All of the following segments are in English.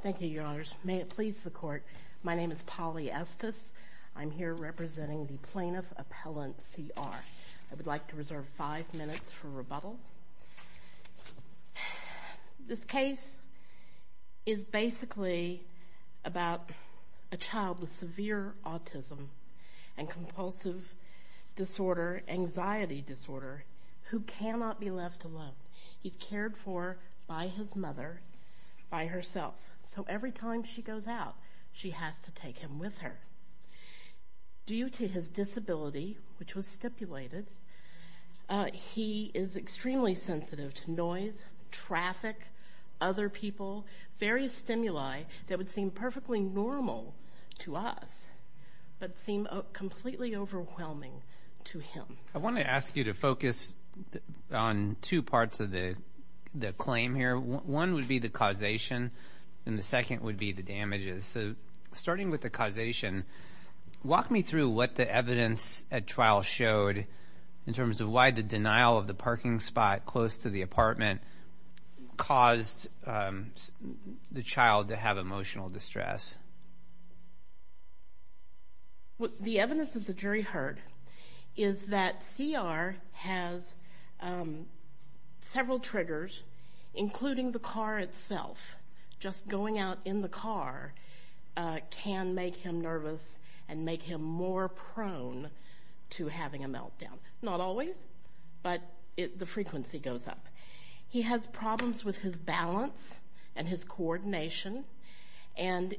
Thank you, Your Honors. May it please the Court, my name is Polly Estes. I'm here representing the Plaintiff Appellant C.R. I would like to reserve five minutes for rebuttal. This case is basically about a child with severe autism and compulsive disorder, anxiety disorder, who cannot be left alone. He's cared for by his mother, by herself. So every time she goes out, she has to take him with her. Due to his disability, which was stipulated, he is extremely sensitive to noise, traffic, other people, various stimuli that would seem perfectly normal to us, but seem completely overwhelming to him. I want to ask you to focus on two parts of the claim here. One would be the causation, and the second would be the damages. So starting with the causation, walk me through what the evidence at trial showed in terms of why the denial of the parking spot close to the apartment caused the child to have emotional distress. The evidence that the jury heard is that C.R. has several triggers, including the car itself. Just going out in the car can make him nervous and make him more prone to having a meltdown. Not always, but the frequency goes up. He has problems with his balance and his coordination, and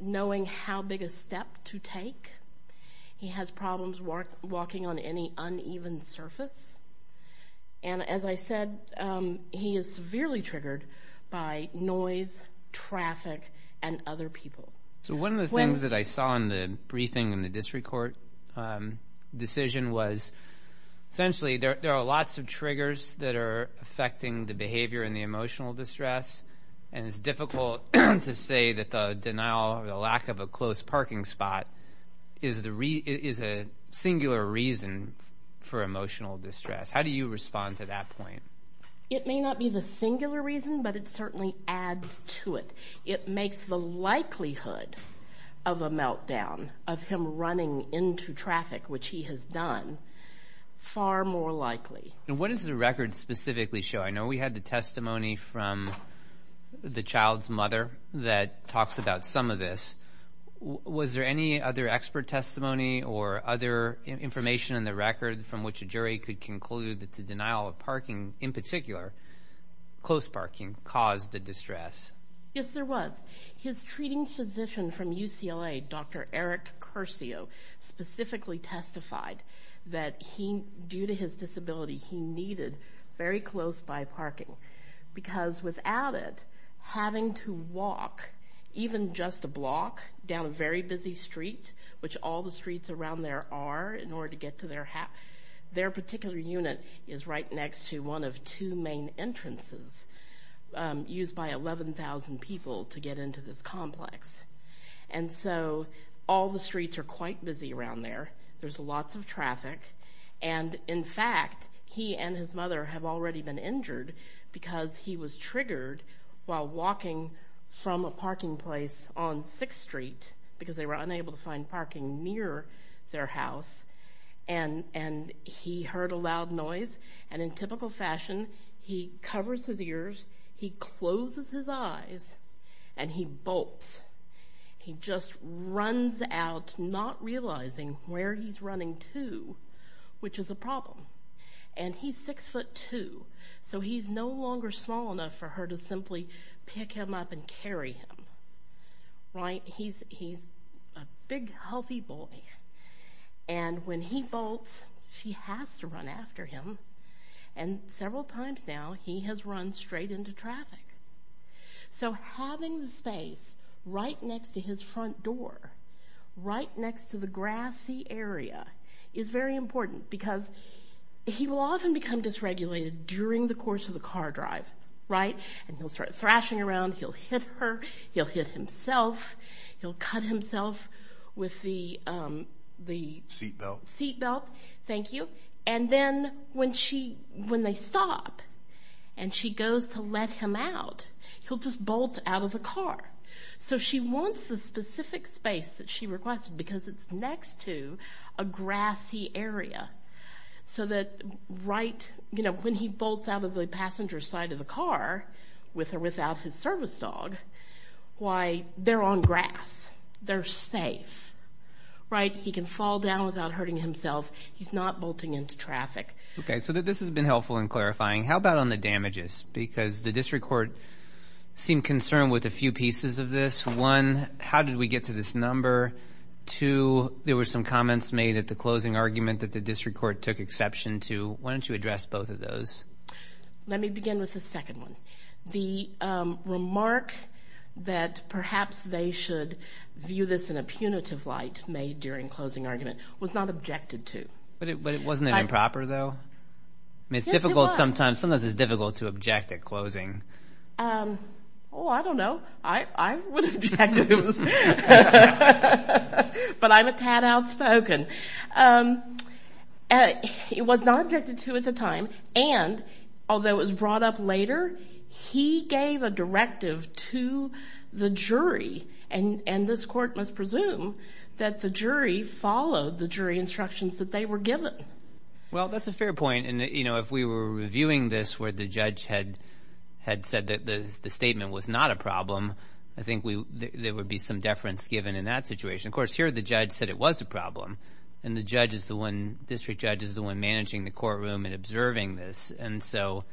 knowing how big a step to take. He has problems walking on any uneven surface. And as I said, he is severely triggered by noise, traffic, and other people. So one of the things that I saw in the briefing in the district court decision was, essentially, there are lots of triggers that are affecting the behavior and the emotional distress, and it's difficult to say that the denial or the lack of a close parking spot is a singular reason for emotional distress. How do you respond to that point? It may not be the singular reason, but it certainly adds to it. It makes the likelihood of a meltdown, of him running into traffic, which he has done, far more likely. And what does the record specifically show? I know we had the testimony from the child's mother that talks about some of this. Was there any other expert testimony or other information in the record from which a jury could conclude that the denial of parking, in particular, close parking, caused the distress? Yes, there was. His treating physician from UCLA, Dr. Eric Curcio, specifically testified that, due to his disability, he needed very close-by parking. Because without it, having to walk, even just a block down a very busy street, which all the streets around there are in order to get to their house, their particular unit is right next to one of two main entrances used by 11,000 people to get into this complex. And so all the streets are quite busy around there. There's lots of traffic. And in fact, he and his mother have already been injured because he was triggered while walking from a parking place on 6th Street, because they were unable to find parking near their house. And he heard a loud noise. And in typical fashion, he covers his ears, he closes his eyes, and he bolts. He just runs out, not realizing where he's running to, which is a problem. And he's six foot two, so he's no longer small enough for her to simply pick him up and carry him. Right? He's a big, healthy boy. And when he bolts, she has to run after him. And several times now, he has run into traffic. So having the space right next to his front door, right next to the grassy area, is very important, because he will often become dysregulated during the course of the car drive. Right? And he'll start thrashing around. He'll hit her. He'll hit himself. He'll cut himself with the seatbelt. Thank you. And then when they stop and she goes to let him out, he'll just bolt out of the car. So she wants the specific space that she requested, because it's next to a grassy area. So that right, you know, when he bolts out of the passenger side of the car with or without his service dog, why, they're on grass. They're safe. Right? He can fall down without hurting himself. He's not bolting into traffic. Okay. So this has been helpful in clarifying. How about on the damages? Because the district court seemed concerned with a few pieces of this. One, how did we get to this number? Two, there were some comments made at the closing argument that the district court took exception to. Why don't you address both of those? Let me begin with the second one. The remark that perhaps they should view this in a punitive light made during closing argument was not objected to. But it wasn't improper though? It's difficult sometimes. Sometimes it's difficult to object at closing. Oh, I don't know. I would object if it was. But I'm a tad outspoken. It was not objected to at the time. And although it was brought up later, he gave a directive to the jury. And this court must presume that the jury followed the jury instructions that they were given. Well, that's a fair point. And, you know, if we were reviewing this where the judge had said that the statement was not a problem, I think there would be some deference given in that situation. Of course, here the judge said it was a problem. And the judge is the one, district judge, is the one managing the courtroom and observing this. And so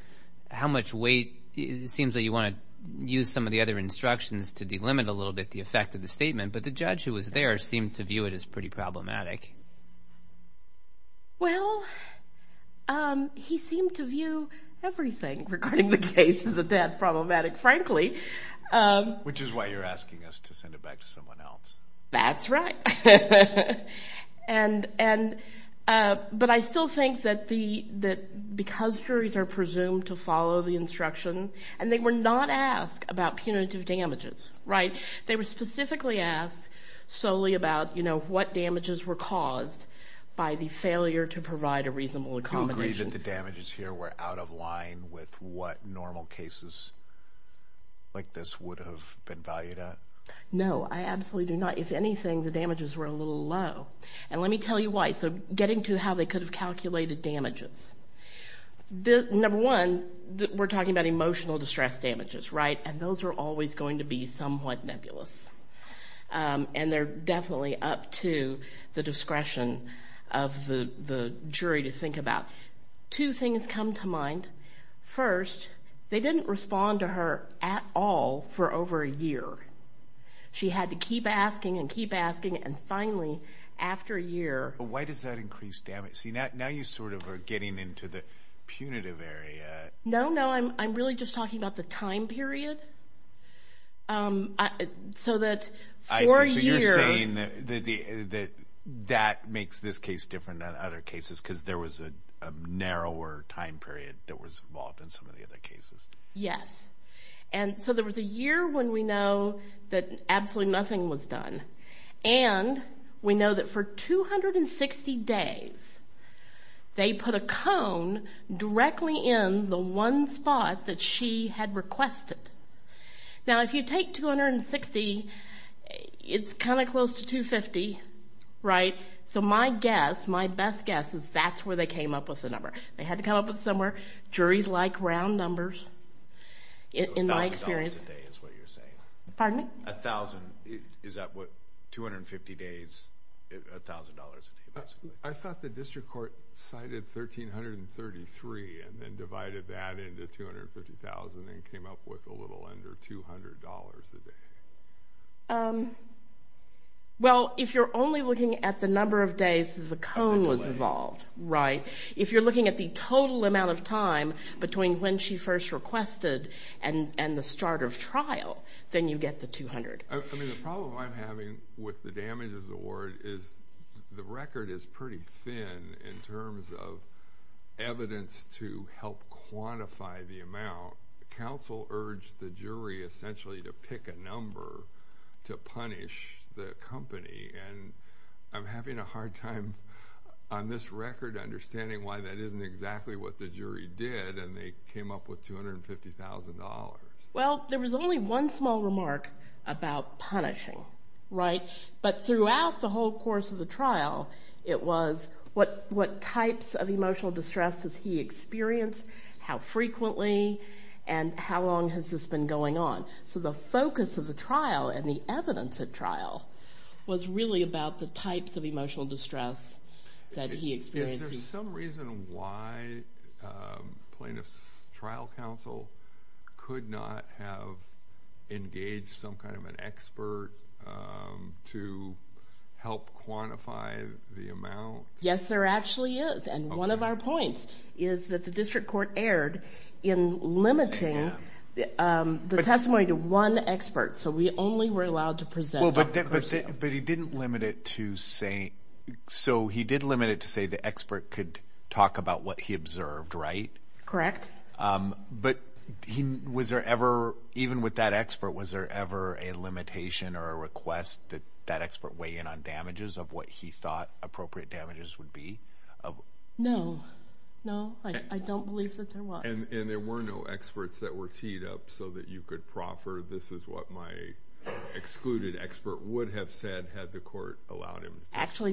how much weight? It seems that you want to use some of the other instructions to delimit a little bit the effect of the statement. But the judge who was there seemed to view it as pretty problematic. Well, he seemed to view everything regarding the case as a tad problematic, frankly. Which is why you're asking us to send it back to someone else. That's right. But I still think that because juries are presumed to follow the instruction, and they were not asked about punitive damages, right? They were specifically asked solely about, you know, what damages were caused by the failure to provide a reasonable accommodation. Do you agree that the damages here were out of line with what normal cases like this would have been valued at? No, I absolutely do not. If anything, the damages were a little low. And let me tell you why. So getting to how they could have calculated damages. Number one, we're talking about emotional distress damages, right? And those are always going to be somewhat nebulous. And they're definitely up to the discretion of the jury to think about. Two things come to mind. First, they didn't respond to her at all for over a year. She had to keep asking and keep asking. And finally, after a year... Why does that increase damage? See, now you sort of are getting into the punitive area. No, no. I'm really just talking about the time period. So that for a year... There was a narrower time period that was involved in some of the other cases. Yes. And so there was a year when we know that absolutely nothing was done. And we know that for 260 days, they put a cone directly in the one spot that she had requested. Now, if you take 260, it's kind of close to 250, right? So my guess, my best guess is that's where they came up with the number. They had to come up with somewhere. Juries like round numbers, in my experience. $1,000 a day is what you're saying. Pardon me? A thousand... Is that what... 250 days, $1,000 a day basically? I thought the district court cited $1,333 and then divided that into $250,000 and came up with a little under $200 a day. Well, if you're only looking at the number of days the cone was involved, right? If you're looking at the total amount of time between when she first requested and the start of trial, then you get the $200. I mean, the problem I'm having with the damages award is the record is pretty thin in terms of evidence to help quantify the amount. Counsel urged the jury essentially to pick a number to punish the company and I'm having a hard time on this record understanding why that isn't exactly what the jury did and they came up with $250,000. Well, there was only one small remark about punishing, right? But throughout the whole course of the trial, it was what types of emotional distress does he experience? How frequently and how long has this been going on? So, the focus of the trial and the evidence at trial was really about the types of emotional distress that he experienced. Is there some reason why plaintiff's trial counsel could not have engaged some kind of an expert to help quantify the amount? Yes, there actually is. And one of our is that the district court erred in limiting the testimony to one expert, so we only were allowed to present- But he didn't limit it to say... So, he did limit it to say the expert could talk about what he observed, right? Correct. But even with that expert, was there ever a limitation or a request that that expert weigh in on damages of what he thought appropriate damages would be? No. No, I don't believe that there was. And there were no experts that were teed up so that you could proffer, this is what my excluded expert would have said had the court allowed him. Actually,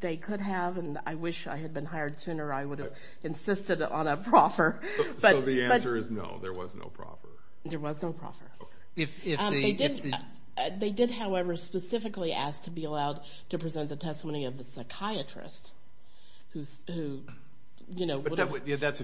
they could have and I wish I had been hired sooner. I would have insisted on a proffer. So, the answer is no, there was no proffer. There was no proffer. They did, however, specifically ask to be allowed to present the testimony of the psychiatrist. That's a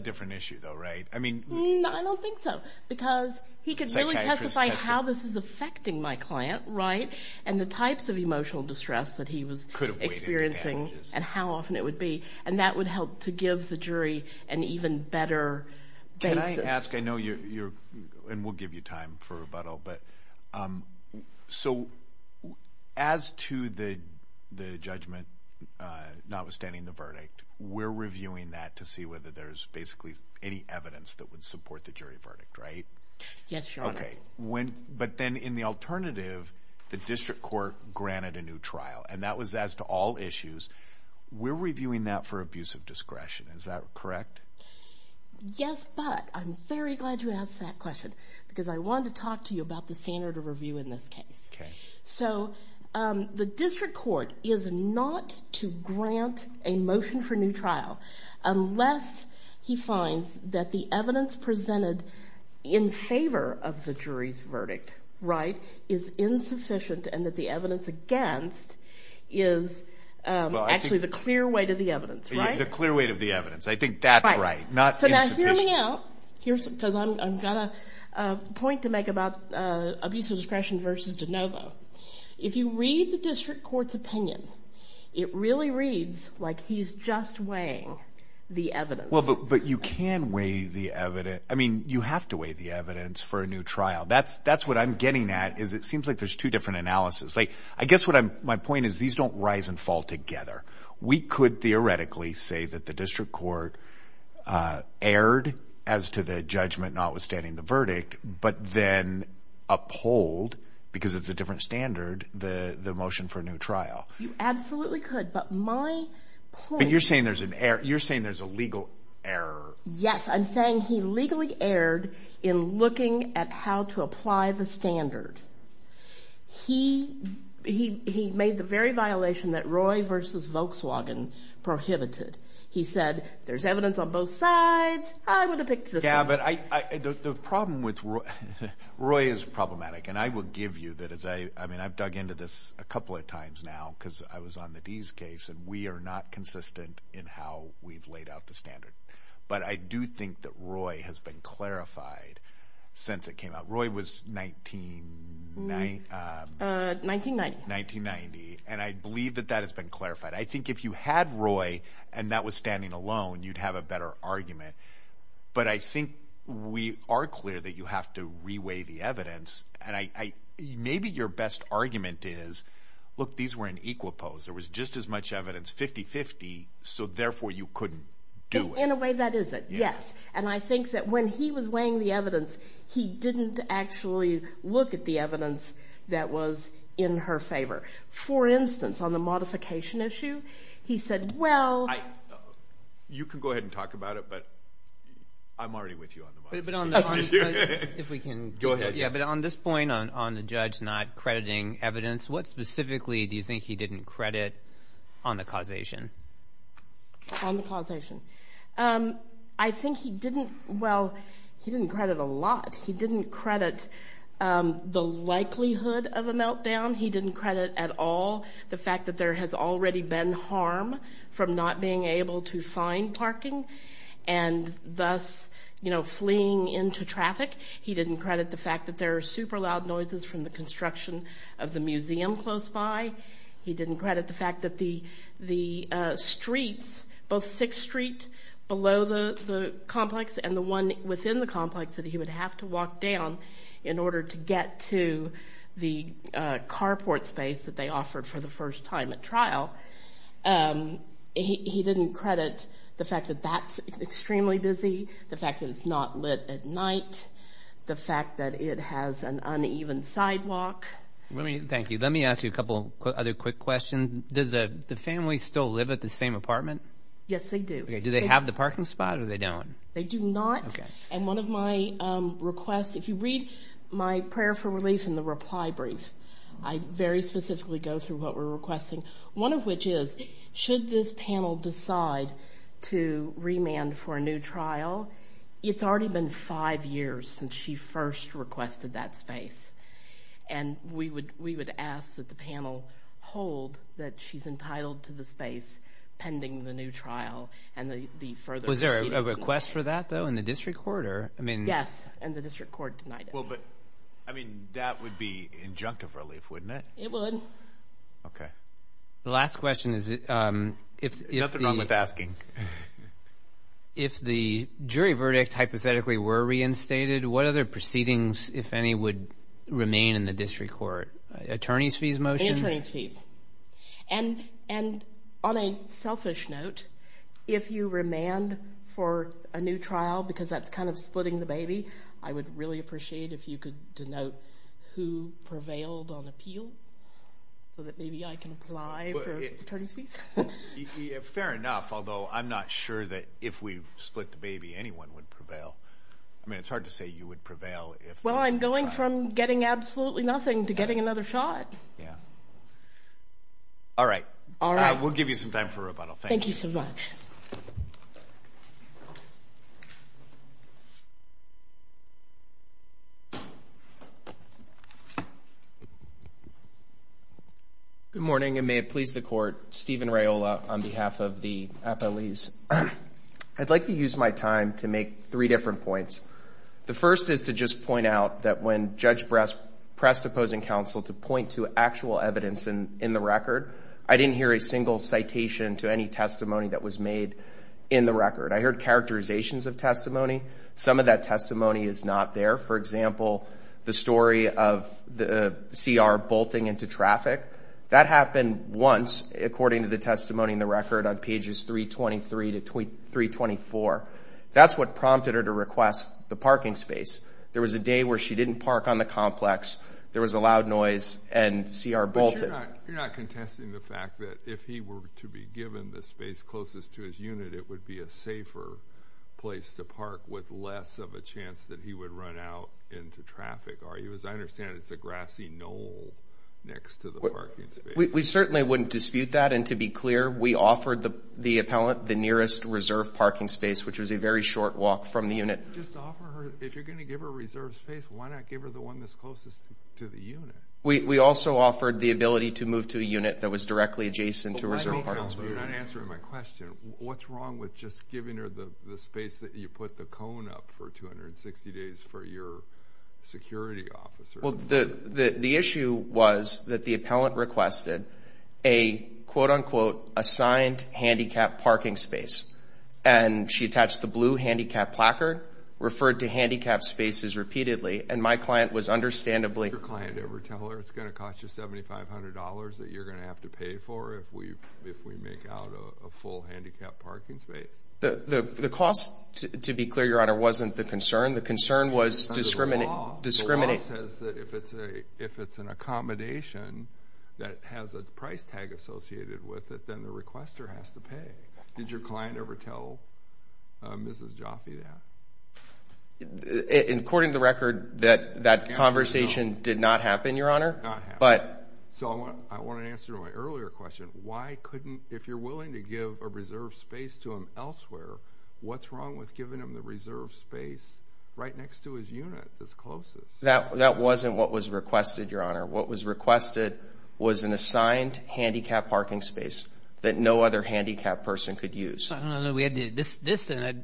different issue though, right? I don't think so because he could really testify how this is affecting my client and the types of emotional distress that he was experiencing and how often it would be. And that would help to give the jury an even better basis. Can I ask, I know you're, and we'll give you time for rebuttal, but so as to the judgment, notwithstanding the verdict, we're reviewing that to see whether there's basically any evidence that would support the jury verdict, right? Yes, sure. Okay. But then in the alternative, the district court granted a new trial and that was as to all issues. We're reviewing that for abuse of discretion. Is that correct? Yes, but I'm very glad you asked that question because I wanted to talk to you about the standard of review in this case. Okay. So, the district court is not to grant a motion for new trial unless he finds that the evidence presented in favor of the jury's verdict, right, is insufficient and that the evidence against is actually the clear weight of the evidence, right? The clear weight of the evidence. I think that's right. Not insufficient. So, now hear me out. Here's, because I've got a point to make about abuse of discretion versus DeNovo. If you read the district court's opinion, it really reads like he's just weighing the evidence. Well, but you can weigh the evidence. I mean, you have to weigh the evidence for a new trial. That's what I'm getting at is it seems like there's two different analysis. Like, my point is these don't rise and fall together. We could theoretically say that the district court erred as to the judgment notwithstanding the verdict, but then uphold, because it's a different standard, the motion for a new trial. You absolutely could, but my point- But you're saying there's an error. You're saying there's a legal error. Yes, I'm saying he legally erred in looking at how to apply the standard. He made the very violation that Roy versus Volkswagen prohibited. He said, there's evidence on both sides. I'm going to pick this one. Yeah, but the problem with Roy, Roy is problematic, and I will give you that as I, I mean, I've dug into this a couple of times now, because I was on the D's case, and we are not consistent in how we've laid out the standard. But I do think that Roy has been clarified since it came out. Roy was 19, 1990, and I believe that that has been clarified. I think if you had Roy, and that was standing alone, you'd have a better argument. But I think we are clear that you have to reweigh the evidence, and I, maybe your best argument is, look, these were in equal pose. There was just as much evidence 50-50, so therefore you couldn't do it. In a way, that is it, yes. And I think that when he was weighing the evidence, he didn't actually look at the evidence that was in her favor. For instance, on the modification issue, he said, well... You can go ahead and talk about it, but I'm already with you on the modification issue. Go ahead. Yeah, but on this point, on the judge not crediting evidence, what specifically do you think he didn't credit on the causation? On the causation. I think he didn't... Well, he didn't credit a lot. He didn't credit the likelihood of a meltdown. He didn't credit at all the fact that there has already been harm from not being able to find parking, and thus fleeing into traffic. He didn't credit the fact that there are super loud noises from the construction of the museum close by. He didn't the fact that the streets, both 6th Street below the complex and the one within the complex that he would have to walk down in order to get to the carport space that they offered for the first time at trial. He didn't credit the fact that that's extremely busy, the fact that it's not lit at night, the fact that it has an uneven sidewalk. Thank you. Let me ask you a couple other quick questions. Does the family still live at the same apartment? Yes, they do. Do they have the parking spot or they don't? They do not. And one of my requests, if you read my prayer for relief in the reply brief, I very specifically go through what we're requesting. One of which is, should this panel decide to remand for a new trial, it's already been five years since she first requested that space. And we would ask that the panel hold that she's entitled to the space pending the new trial and the further proceedings. Was there a request for that though in the district court? Yes, and the district court denied it. Well, but I mean, that would be injunctive relief, wouldn't it? It would. Okay. The last question is, if the jury verdict hypothetically were reinstated, what other proceedings, if any, would remain in the district court? Attorneys' fees motion? Attorneys' fees. And on a selfish note, if you remand for a new trial because that's kind of splitting the baby, I would really appreciate if you could denote who prevailed on appeal so that maybe I can apply for attorneys' fees. Fair enough, although I'm not sure that if we split the baby, anyone would prevail. I mean, it's hard to say you would prevail if- Well, I'm going from getting absolutely nothing to getting another shot. Yeah. All right. All right. We'll give you some time for rebuttal. Thank you so much. Good morning, and may it please the court. Stephen Rayola on behalf of the appellees. I'd like to use my time to make three different points. The first is to just point out that when Judge pressed opposing counsel to point to actual evidence in the record, I didn't hear a single citation to any testimony that was made in the record. I heard characterizations of testimony. Some of that testimony is not there. For example, the story of the CR bolting into traffic. That happened once, according to the testimony in the record on pages 323 to 324. That's what prompted her to request the parking space. There was a day where she didn't park on the complex. There was a loud noise, and CR bolted. You're not contesting the fact that if he were to be given the space closest to his unit, it would be a safer place to park with less of a chance that he would run out into traffic, are you? As I understand it, it's a grassy knoll next to the parking space. We certainly wouldn't dispute that. And to be clear, we offered the appellant the nearest reserve parking space, which was a very short walk from the unit. Just offer her, if you're going to give her a reserve space, why not give her the one that's closest to the unit? We also offered the ability to move to a unit that was directly adjacent to a reserve parking You're not answering my question. What's wrong with just giving her the space that you put the cone up for 260 days for your security officer? Well, the issue was that the appellant requested a quote-unquote assigned handicap parking space. And she attached the blue handicap placard, referred to handicapped spaces repeatedly, and my client was understandably- Did your client ever tell her it's going to cost you $7,500 that you're going to have to pay for if we make out a full handicap parking space? The cost, to be clear, Your Honor, wasn't the concern. The concern was discriminating- Under the law, the law says that if it's an accommodation that has a price tag associated with it, then the requester has to pay. Did your client ever tell Mrs. Jaffe that? According to the record, that conversation did not happen, Your Honor, but- So I want an answer to my earlier question. Why couldn't, if you're willing to give a reserve space to them elsewhere, what's wrong with giving them the reserve space right next to his unit that's closest? That wasn't what was requested, Your Honor. What was requested was an assigned handicap parking space that no other handicapped person could use. I don't know. This,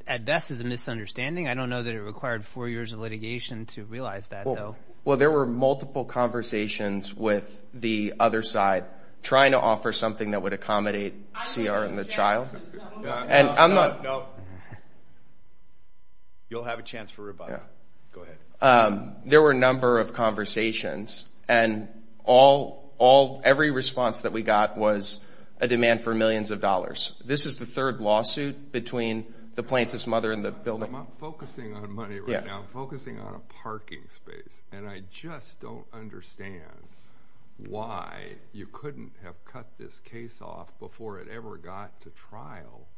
at best, is a misunderstanding. I don't know that it required four years of litigation to realize that, though. Well, there were multiple conversations with the other side trying to offer something that would accommodate C.R. and the child. And I'm not- No. You'll have a chance for rebuttal. Go ahead. There were a number of conversations, and every response that we got was a demand for millions of dollars. This is the third lawsuit between the plaintiff's mother and the building. I'm not focusing on money right now. I'm focusing on a parking space, and I just don't understand why you couldn't have cut this case off before it ever got to trial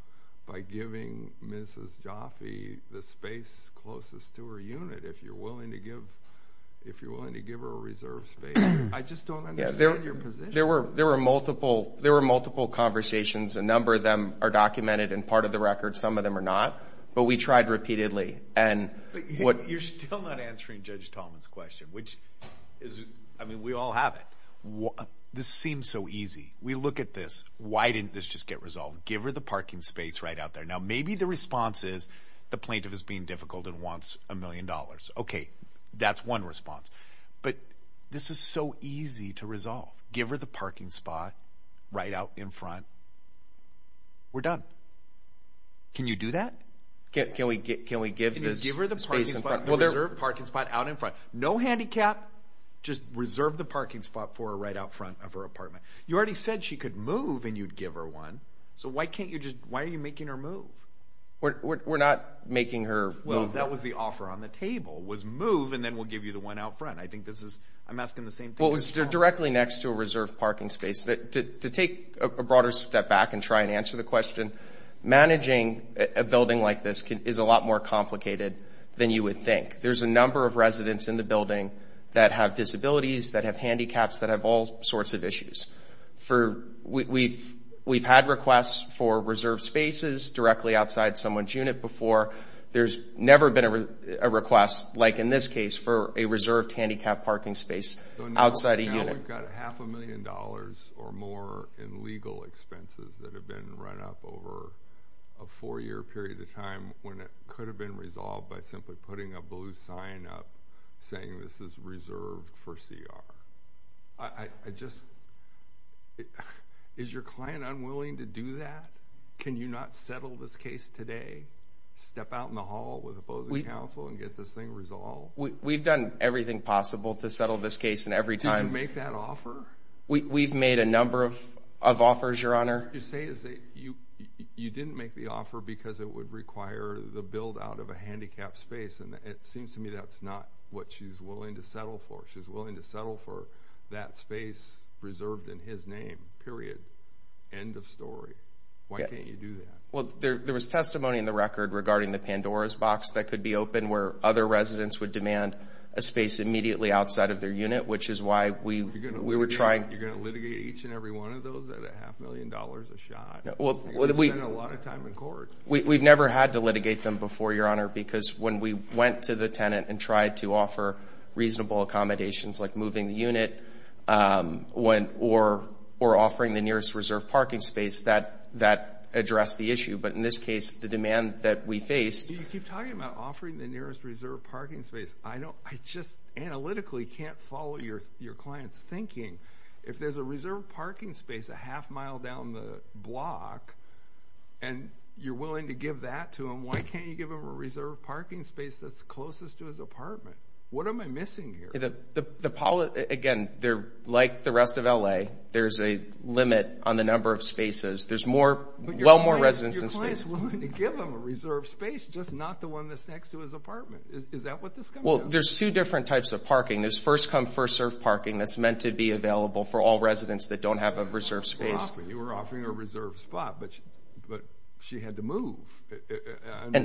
by giving Mrs. Jaffe the space closest to her unit if you're willing to give her a reserve space. I just don't understand your position. There were multiple conversations. A number of them are documented and part of the record. Some of them are not. But we tried repeatedly, and what- You're still not answering Judge Tallman's question, which is- I mean, we all have it. This seems so easy. We look at this. Why didn't this just get resolved? Give her the parking space right out there. Now, maybe the response is the plaintiff is being difficult and wants a million dollars. Okay, that's one response. But this is so easy to resolve. Give her the parking spot right out in front. We're done. Can you do that? Can we give this space in front? The reserve parking spot out in front. No handicap. Just reserve the parking spot for her right out front of her apartment. You already said she could move and you'd give her one. So why can't you just- Why are you making her move? We're not making her- Well, that was the offer on the table, was move and then we'll give you the one out front. I think this is- I'm asking the same thing- Well, it was directly next to a reserve parking space. But to take a broader step back and try and answer the question, managing a building like this is a lot more complicated than you would think. There's a number of residents in the building that have disabilities, that have handicaps, that have all sorts of issues. We've had requests for reserve spaces directly outside someone's unit before. There's never been a request, like in this case, for a reserved handicap parking space outside a unit. Now we've got half a million dollars or more in legal expenses that have been run up over a four-year period of time when it could have been resolved by simply putting a blue sign up saying this is reserved for CR. I just- Is your client unwilling to do that? Can you not settle this case today? Step out in the hall with opposing counsel and get this thing resolved? We've done everything possible to settle this case and every time- Did you make that offer? We've made a number of offers, Your Honor. What you're saying is that you didn't make the offer because it would require the build out of a handicapped space. And it seems to me that's not what she's willing to settle for. She's willing to settle for that space reserved in his name, period. End of story. Why can't you do that? Well, there was testimony in the record regarding the Pandora's box that could be open where other residents would demand a space immediately outside of their unit, which is why we were trying- You're going to litigate each and every one of those at a half million dollars a shot. You're going to spend a lot of time in court. We've never had to litigate them before, Your Honor, because when we went to the tenant and tried to offer reasonable accommodations like moving the unit or offering the nearest reserved parking space, that addressed the issue. But in this case, the demand that we faced- You keep talking about offering the nearest reserved parking space. I just analytically can't follow your client's thinking. If there's a reserved parking space a half mile down the block and you're willing to give that to them, why can't you give them a reserved parking space that's closest to his apartment? What am I missing here? Again, like the rest of L.A., there's a limit on the number of spaces. There's well more residents in space. But your client's willing to give them a reserved space, just not the one that's next to his apartment. Is that what this comes down to? Well, there's two different types of parking. There's first-come, first-served parking that's meant to be available for all residents that don't have a reserved space. You were offering a reserved spot, but she had to move.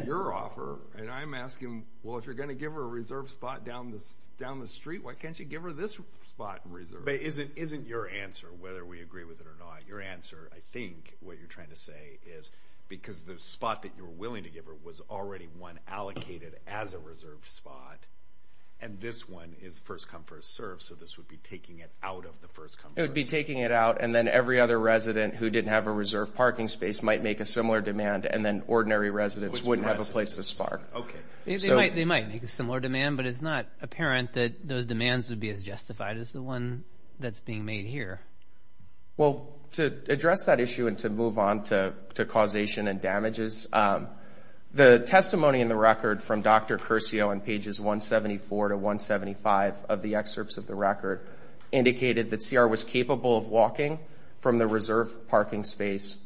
Your offer, and I'm asking, well, if you're going to give her a reserved spot down the street, why can't you give her this spot in reserve? But isn't your answer, whether we agree with it or not, your answer, I think, what you're trying to say is because the spot that you're willing to give her was already one allocated as a reserved spot, and this one is first-come, first-served, so this would be taking it out of the first-come, first-served. It would be taking it out, and then every other resident who didn't have a reserved parking space might make a similar demand, and then ordinary residents wouldn't have a place this far. They might make a similar demand, but it's not apparent that those demands would be as justified as the one that's being made here. Well, to address that issue and to move on to causation and damages, the testimony in the record from Dr. Curcio on pages 174 to 175 of the excerpts of the record indicated that CR was capable of walking from the reserved parking space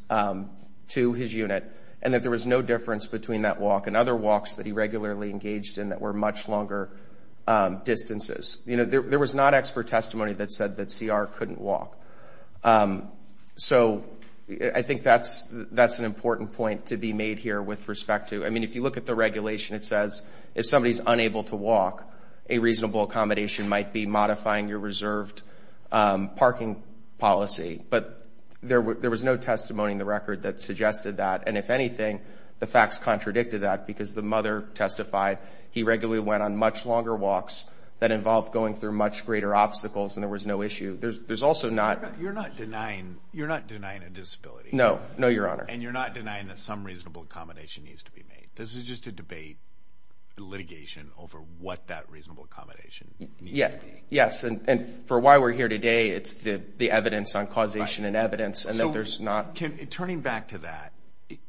to his unit, and that there was no difference between that walk and other walks that he regularly engaged in that were much longer distances. You know, there was not expert testimony that said that CR couldn't walk. So I think that's an important point to be made here with respect to, I mean, if you look at the regulation, it says if somebody's unable to walk, a reasonable accommodation might be modifying your reserved parking policy, but there was no testimony in the record that suggested that, and if anything, the facts contradicted that because the mother testified he regularly went on much longer walks that involved going through much greater obstacles, and there was no issue. There's also not... You're not denying a disability. No, no, Your Honor. And you're not denying that some reasonable accommodation needs to be made. This is just a debate, litigation, over what that reasonable accommodation needs to be. Yes, and for why we're here today, it's the evidence on causation and evidence, and that there's not... Turning back to that,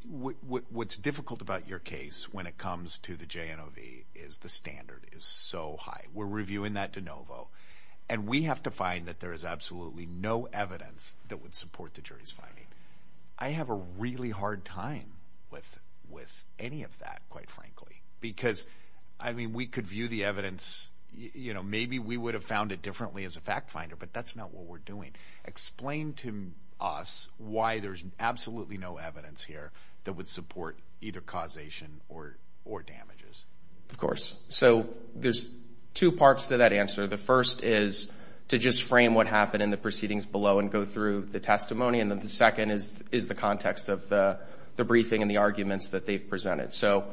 what's difficult about your case when it comes to the JNOV is the standard is so high. We're reviewing that de novo, and we have to find that there is absolutely no evidence that would support the jury's finding. I have a really hard time with any of that, quite frankly, because we could view the evidence... Maybe we would have found it differently as a fact finder, but that's not what we're doing. Explain to us why there's absolutely no evidence here that would support either causation or damages. Of course. So there's two parts to that answer. The first is to just frame what happened in the proceedings below and go through the testimony, and then the second is the context of the briefing and the arguments that they've presented. So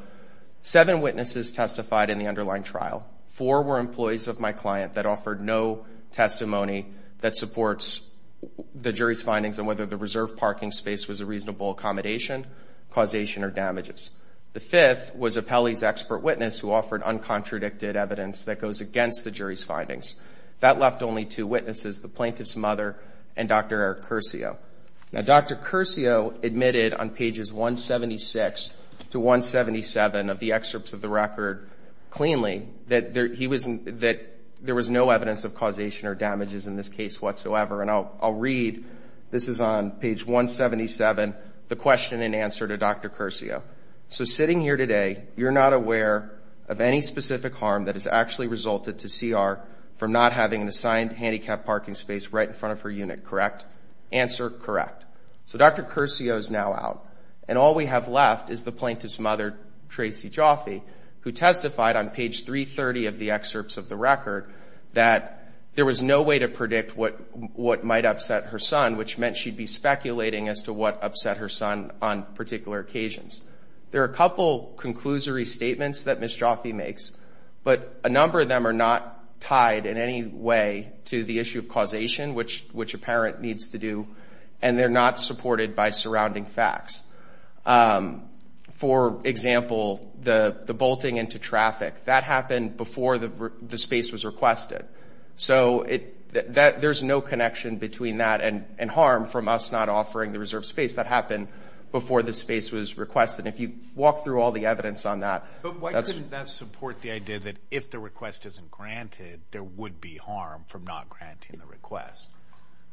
seven witnesses testified in the underlying trial. Four were employees of my client that offered no testimony that supports the jury's findings on whether the reserve parking space was a reasonable accommodation, causation, or damages. The fifth was a Pelley's expert witness who offered uncontradicted evidence that goes against the jury's findings. That left only two witnesses, the plaintiff's mother and Dr. Eric Curcio. Now, Dr. Curcio admitted on pages 176 to 177 of the excerpts of the record cleanly that there was no evidence of causation or damages in this case whatsoever. And I'll read, this is on page 177, the question and answer to Dr. Curcio. So sitting here today, you're not aware of any specific harm that has actually resulted to CR from not having an assigned handicapped parking space right in front of her unit, correct? Answer, correct. So Dr. Curcio is now out, and all we have left is the plaintiff's mother, Tracy Joffe, who testified on page 330 of the excerpts of the record that there was no way to predict what might upset her son, which meant she'd be speculating as to what upset her son on particular occasions. There are a couple conclusory statements that Ms. Joffe makes, but a number of them are not tied in any way to the issue of causation, which a parent needs to do, and they're not supported by surrounding facts. For example, the bolting into traffic, that happened before the space was requested. So there's no connection between that and harm from us not offering the reserved space. That happened before the space was requested. If you walk through all the evidence on that- But why couldn't that support the idea that if the request isn't granted, there would be harm from not granting the request?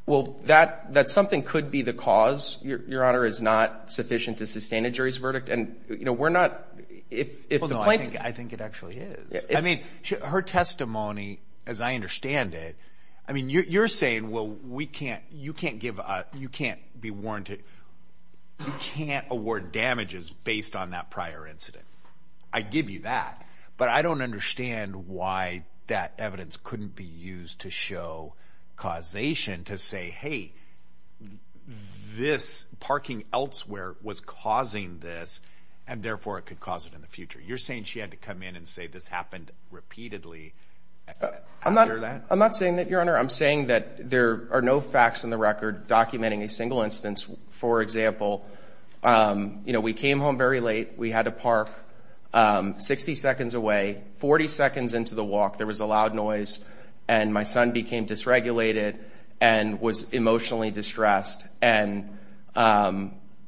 Well, that something could be the cause. Your Honor, it's not sufficient to sustain a jury's verdict, and we're not, if the plaintiff- I think it actually is. I mean, her testimony, as I understand it, I mean, you're saying, you can't award damages based on that prior incident. I give you that, but I don't understand why that evidence couldn't be used to show causation, to say, hey, this parking elsewhere was causing this, and therefore it could cause it in the future. You're saying she had to come in and say this happened repeatedly after that? I'm not saying that, Your Honor. I'm saying that there are no facts in the record documenting a single instance. For example, we came home very late. We had to park 60 seconds away, 40 seconds into the walk. There was a loud noise, and my son became dysregulated and was emotionally distressed. And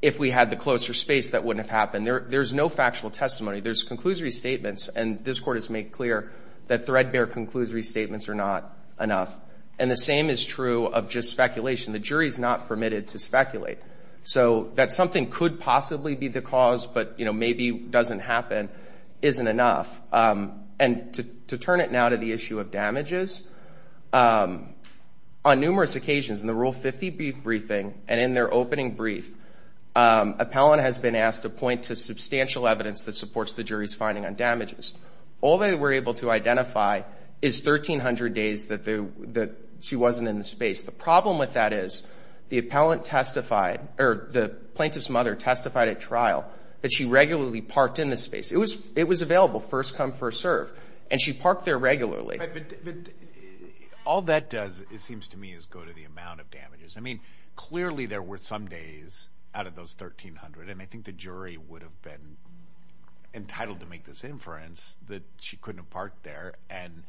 if we had the closer space, that wouldn't have happened. There's no factual testimony. There's conclusory statements, and this Court has made clear that threadbare conclusory statements are not enough. And the same is true of just speculation. The jury's not permitted to speculate. So that something could possibly be the cause, but maybe doesn't happen isn't enough. And to turn it now to the issue of damages, on numerous occasions in the Rule 50 briefing and in their opening brief, appellant has been asked to point to substantial evidence that supports the jury's finding on damages. All they were able to identify is 1,300 days that she wasn't in the space. The problem with that is the appellant testified, or the plaintiff's mother testified at trial, that she regularly parked in the space. It was available, first come, first serve, and she parked there regularly. But all that does, it seems to me, is go to the amount of damages. I mean, clearly there were some days out of those 1,300, and I think the jury would have been entitled to make this inference that she couldn't have parked there. And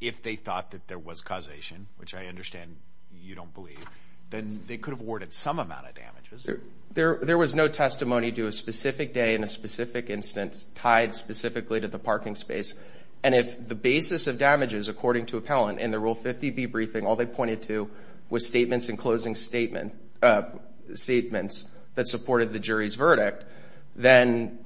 if they thought that there was causation, which I understand you don't believe, then they could have awarded some amount of damages. There was no testimony to a specific day in a specific instance tied specifically to the parking space. And if the basis of damages, according to appellant, in the Rule 50 debriefing, all they pointed to was statements and closing statements that supported the jury's verdict, then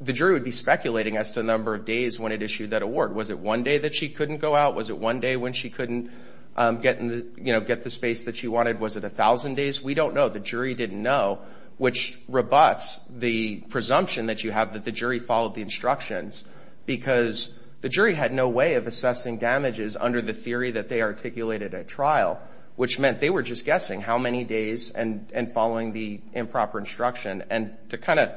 the jury would be speculating as to the number of days when it issued that award. Was it one day that she couldn't go out? Was it one day when she couldn't get the space that she wanted? Was it 1,000 days? We don't know. The jury didn't know, which rebuts the presumption that you have that the jury followed the instructions because the jury had no way of assessing damages under the theory that they articulated at trial, which meant they were just guessing how many days and following the improper instruction. And to kind of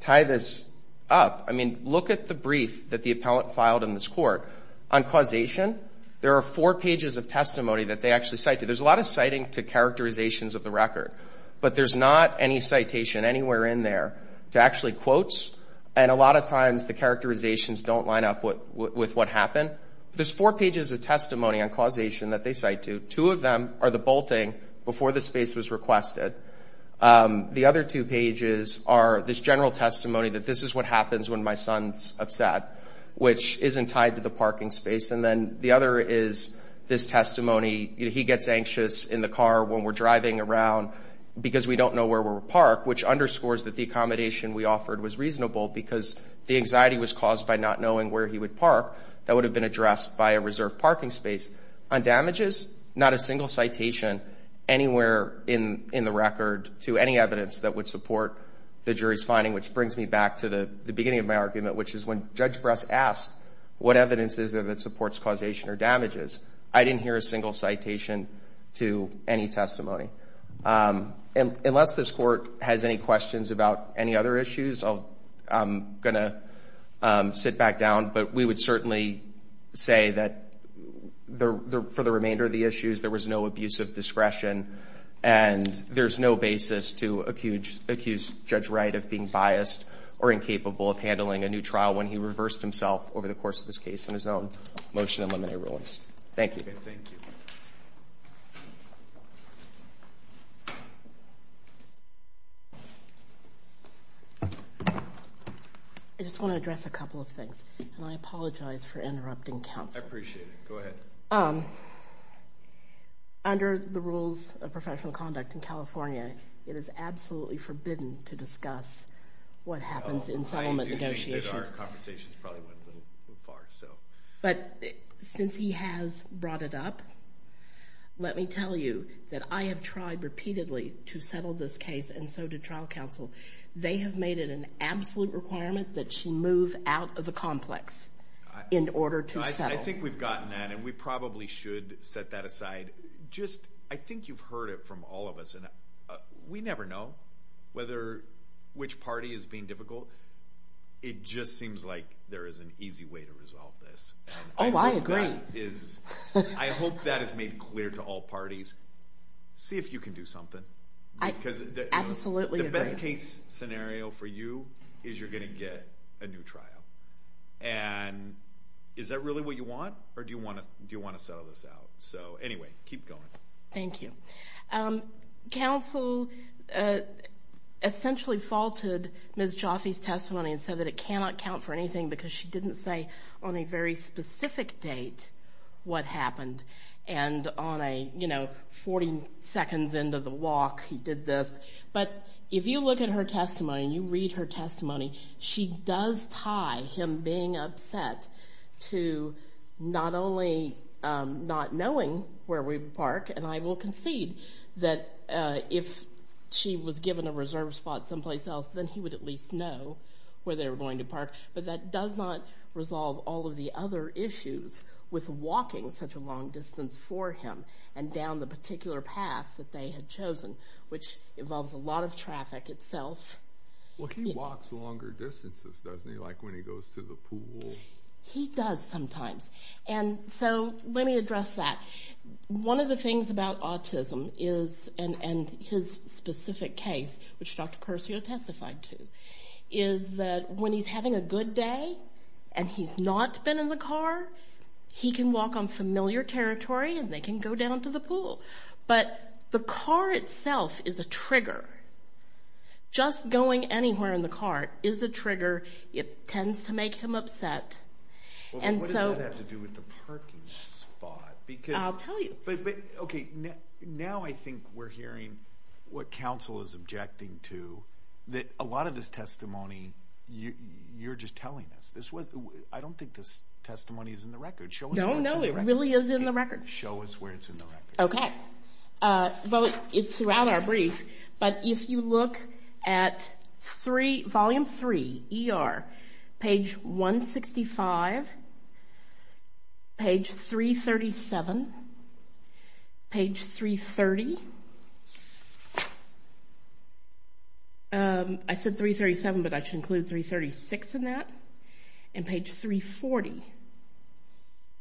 tie this up, I mean, look at the brief that the appellant filed in this court. On causation, there are four pages of testimony that they actually cite. There's a lot of citing to characterizations of the record, but there's not any citation anywhere in there to actually quote. And a lot of times the characterizations don't line up with what happened. There's four pages of testimony on causation that they cite to. Two of them are the bolting before the space was requested. The other two pages are this general testimony that this is what happens when my son's upset, which isn't tied to the parking space. And then the other is this testimony. He gets anxious in the car when we're driving around because we don't know where we'll park, which underscores that the accommodation we offered was reasonable because the anxiety was caused by not knowing where he would park. That would have been addressed by a reserved parking space. On damages, not a single citation anywhere in the record to any evidence that would support the jury's finding, which brings me back to the beginning of my argument, which is when Judge Bress asked what evidence is there that supports causation or damages. I didn't hear a single citation to any testimony. Unless this court has any questions about any other issues, I'm going to sit back down. But we would certainly say that for the remainder of the issues, there was no abuse of discretion and there's no basis to accuse Judge Wright of being biased or incapable of handling a new trial when he reversed himself over the course of this case in his own motion and limited rulings. Thank you. I just want to address a couple of things and I apologize for interrupting counsel. I appreciate it. Go ahead. Under the rules of professional conduct in California, it is absolutely forbidden to discuss what happens in settlement negotiations. But since he has brought it up, let me tell you that I have tried repeatedly to settle this case and so did trial counsel. They have made it an absolute requirement that she move out of the complex in order to settle. I think we've gotten that and we probably should set that aside. I think you've heard it from all of us and we never know which party is being difficult. It just seems like there is an easy way to resolve this. Oh, I agree. I hope that is made clear to all parties. See if you can do something. Absolutely. The best case scenario for you is you're going to get a new trial. And is that really what you want or do you want to settle this out? So anyway, keep going. Thank you. Counsel essentially faulted Ms. Jaffe's testimony and said that it cannot count for anything because she didn't say on a very specific date what happened. And on a, you know, 40 seconds into the walk, he did this. But if you look at her testimony and you read her testimony, she does tie him being upset to not only not knowing where we park, and I will concede that if she was given a reserve spot someplace else, then he would at least know where they were going to park. But that does not resolve all of the other issues with walking such a long distance for him and down the particular path that they had chosen, which involves a lot of traffic itself. Well, he walks longer distances, doesn't he? Like when he goes to the pool. He does sometimes. And so let me address that. One of the things about autism is and his specific case, which Dr. Percio testified to, is that when he's having a good day and he's not been in the car, he can walk on familiar territory and they can go down to the pool. But the car itself is a trigger. Just going anywhere in the car is a trigger. It tends to make him upset. And so... What does that have to do with the parking spot? Because... I'll tell you. But, okay. Now I think we're hearing what counsel is objecting to, that a lot of this testimony, you're just telling us. I don't think this testimony is in the record. Show us where it's in the record. No, no. It really is in the record. Show us where it's in the record. Okay. Well, it's throughout our brief. But if you look at volume three, ER, page 165, page 337, page 330, I said 337, but I should include 336 in that, and page 340,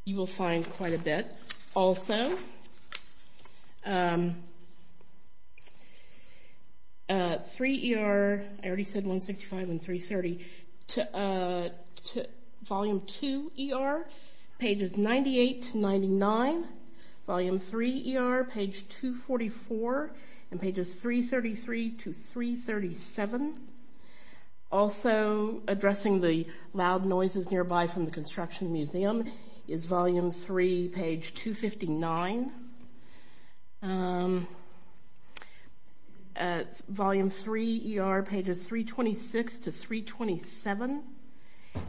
you will find quite a bit. three ER, I already said 165 and 330, volume two ER, pages 98 to 99, volume three ER, page 244, and pages 333 to 337. Also addressing the loud noises nearby from the construction museum is volume three, page 259. Volume three ER, pages 326 to 327,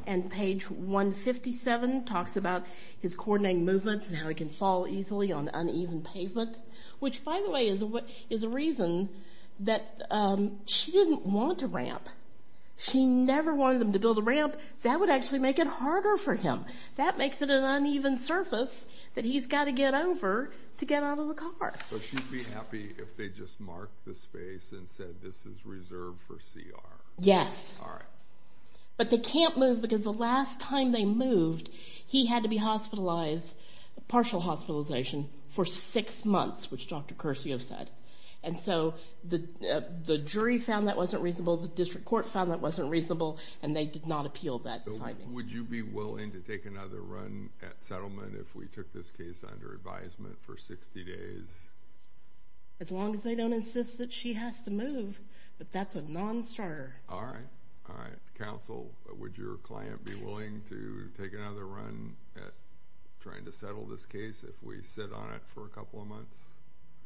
and page 157 talks about his coordinating movements and how he can fall easily on uneven pavement, which, by the way, is a reason that she didn't want a ramp. She never wanted him to build a ramp. That would actually make it harder for him. That makes it an uneven surface that he's got to get over to get out of the car. But she'd be happy if they just marked the space and said this is reserved for CR. Yes. But they can't move because the last time they moved, he had to be hospitalized, partial hospitalization, for six months, which Dr. Curcio said. And so the jury found that wasn't reasonable. The district court found that wasn't reasonable, and they did not appeal that finding. Would you be willing to take another run at settlement if we took this case under advisement for 60 days? As long as they don't insist that she has to move, but that's a non-starter. All right, all right. Counsel, would your client be willing to take another run at trying to settle this case if we sit on it for a couple of months?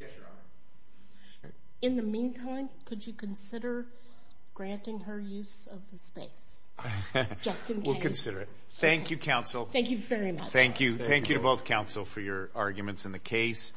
Yes, Your Honor. In the meantime, could you consider granting her use of the space? Just in case. We'll consider it. Thank you, counsel. Thank you very much. Thank you. Thank you to both counsel for your arguments in the case.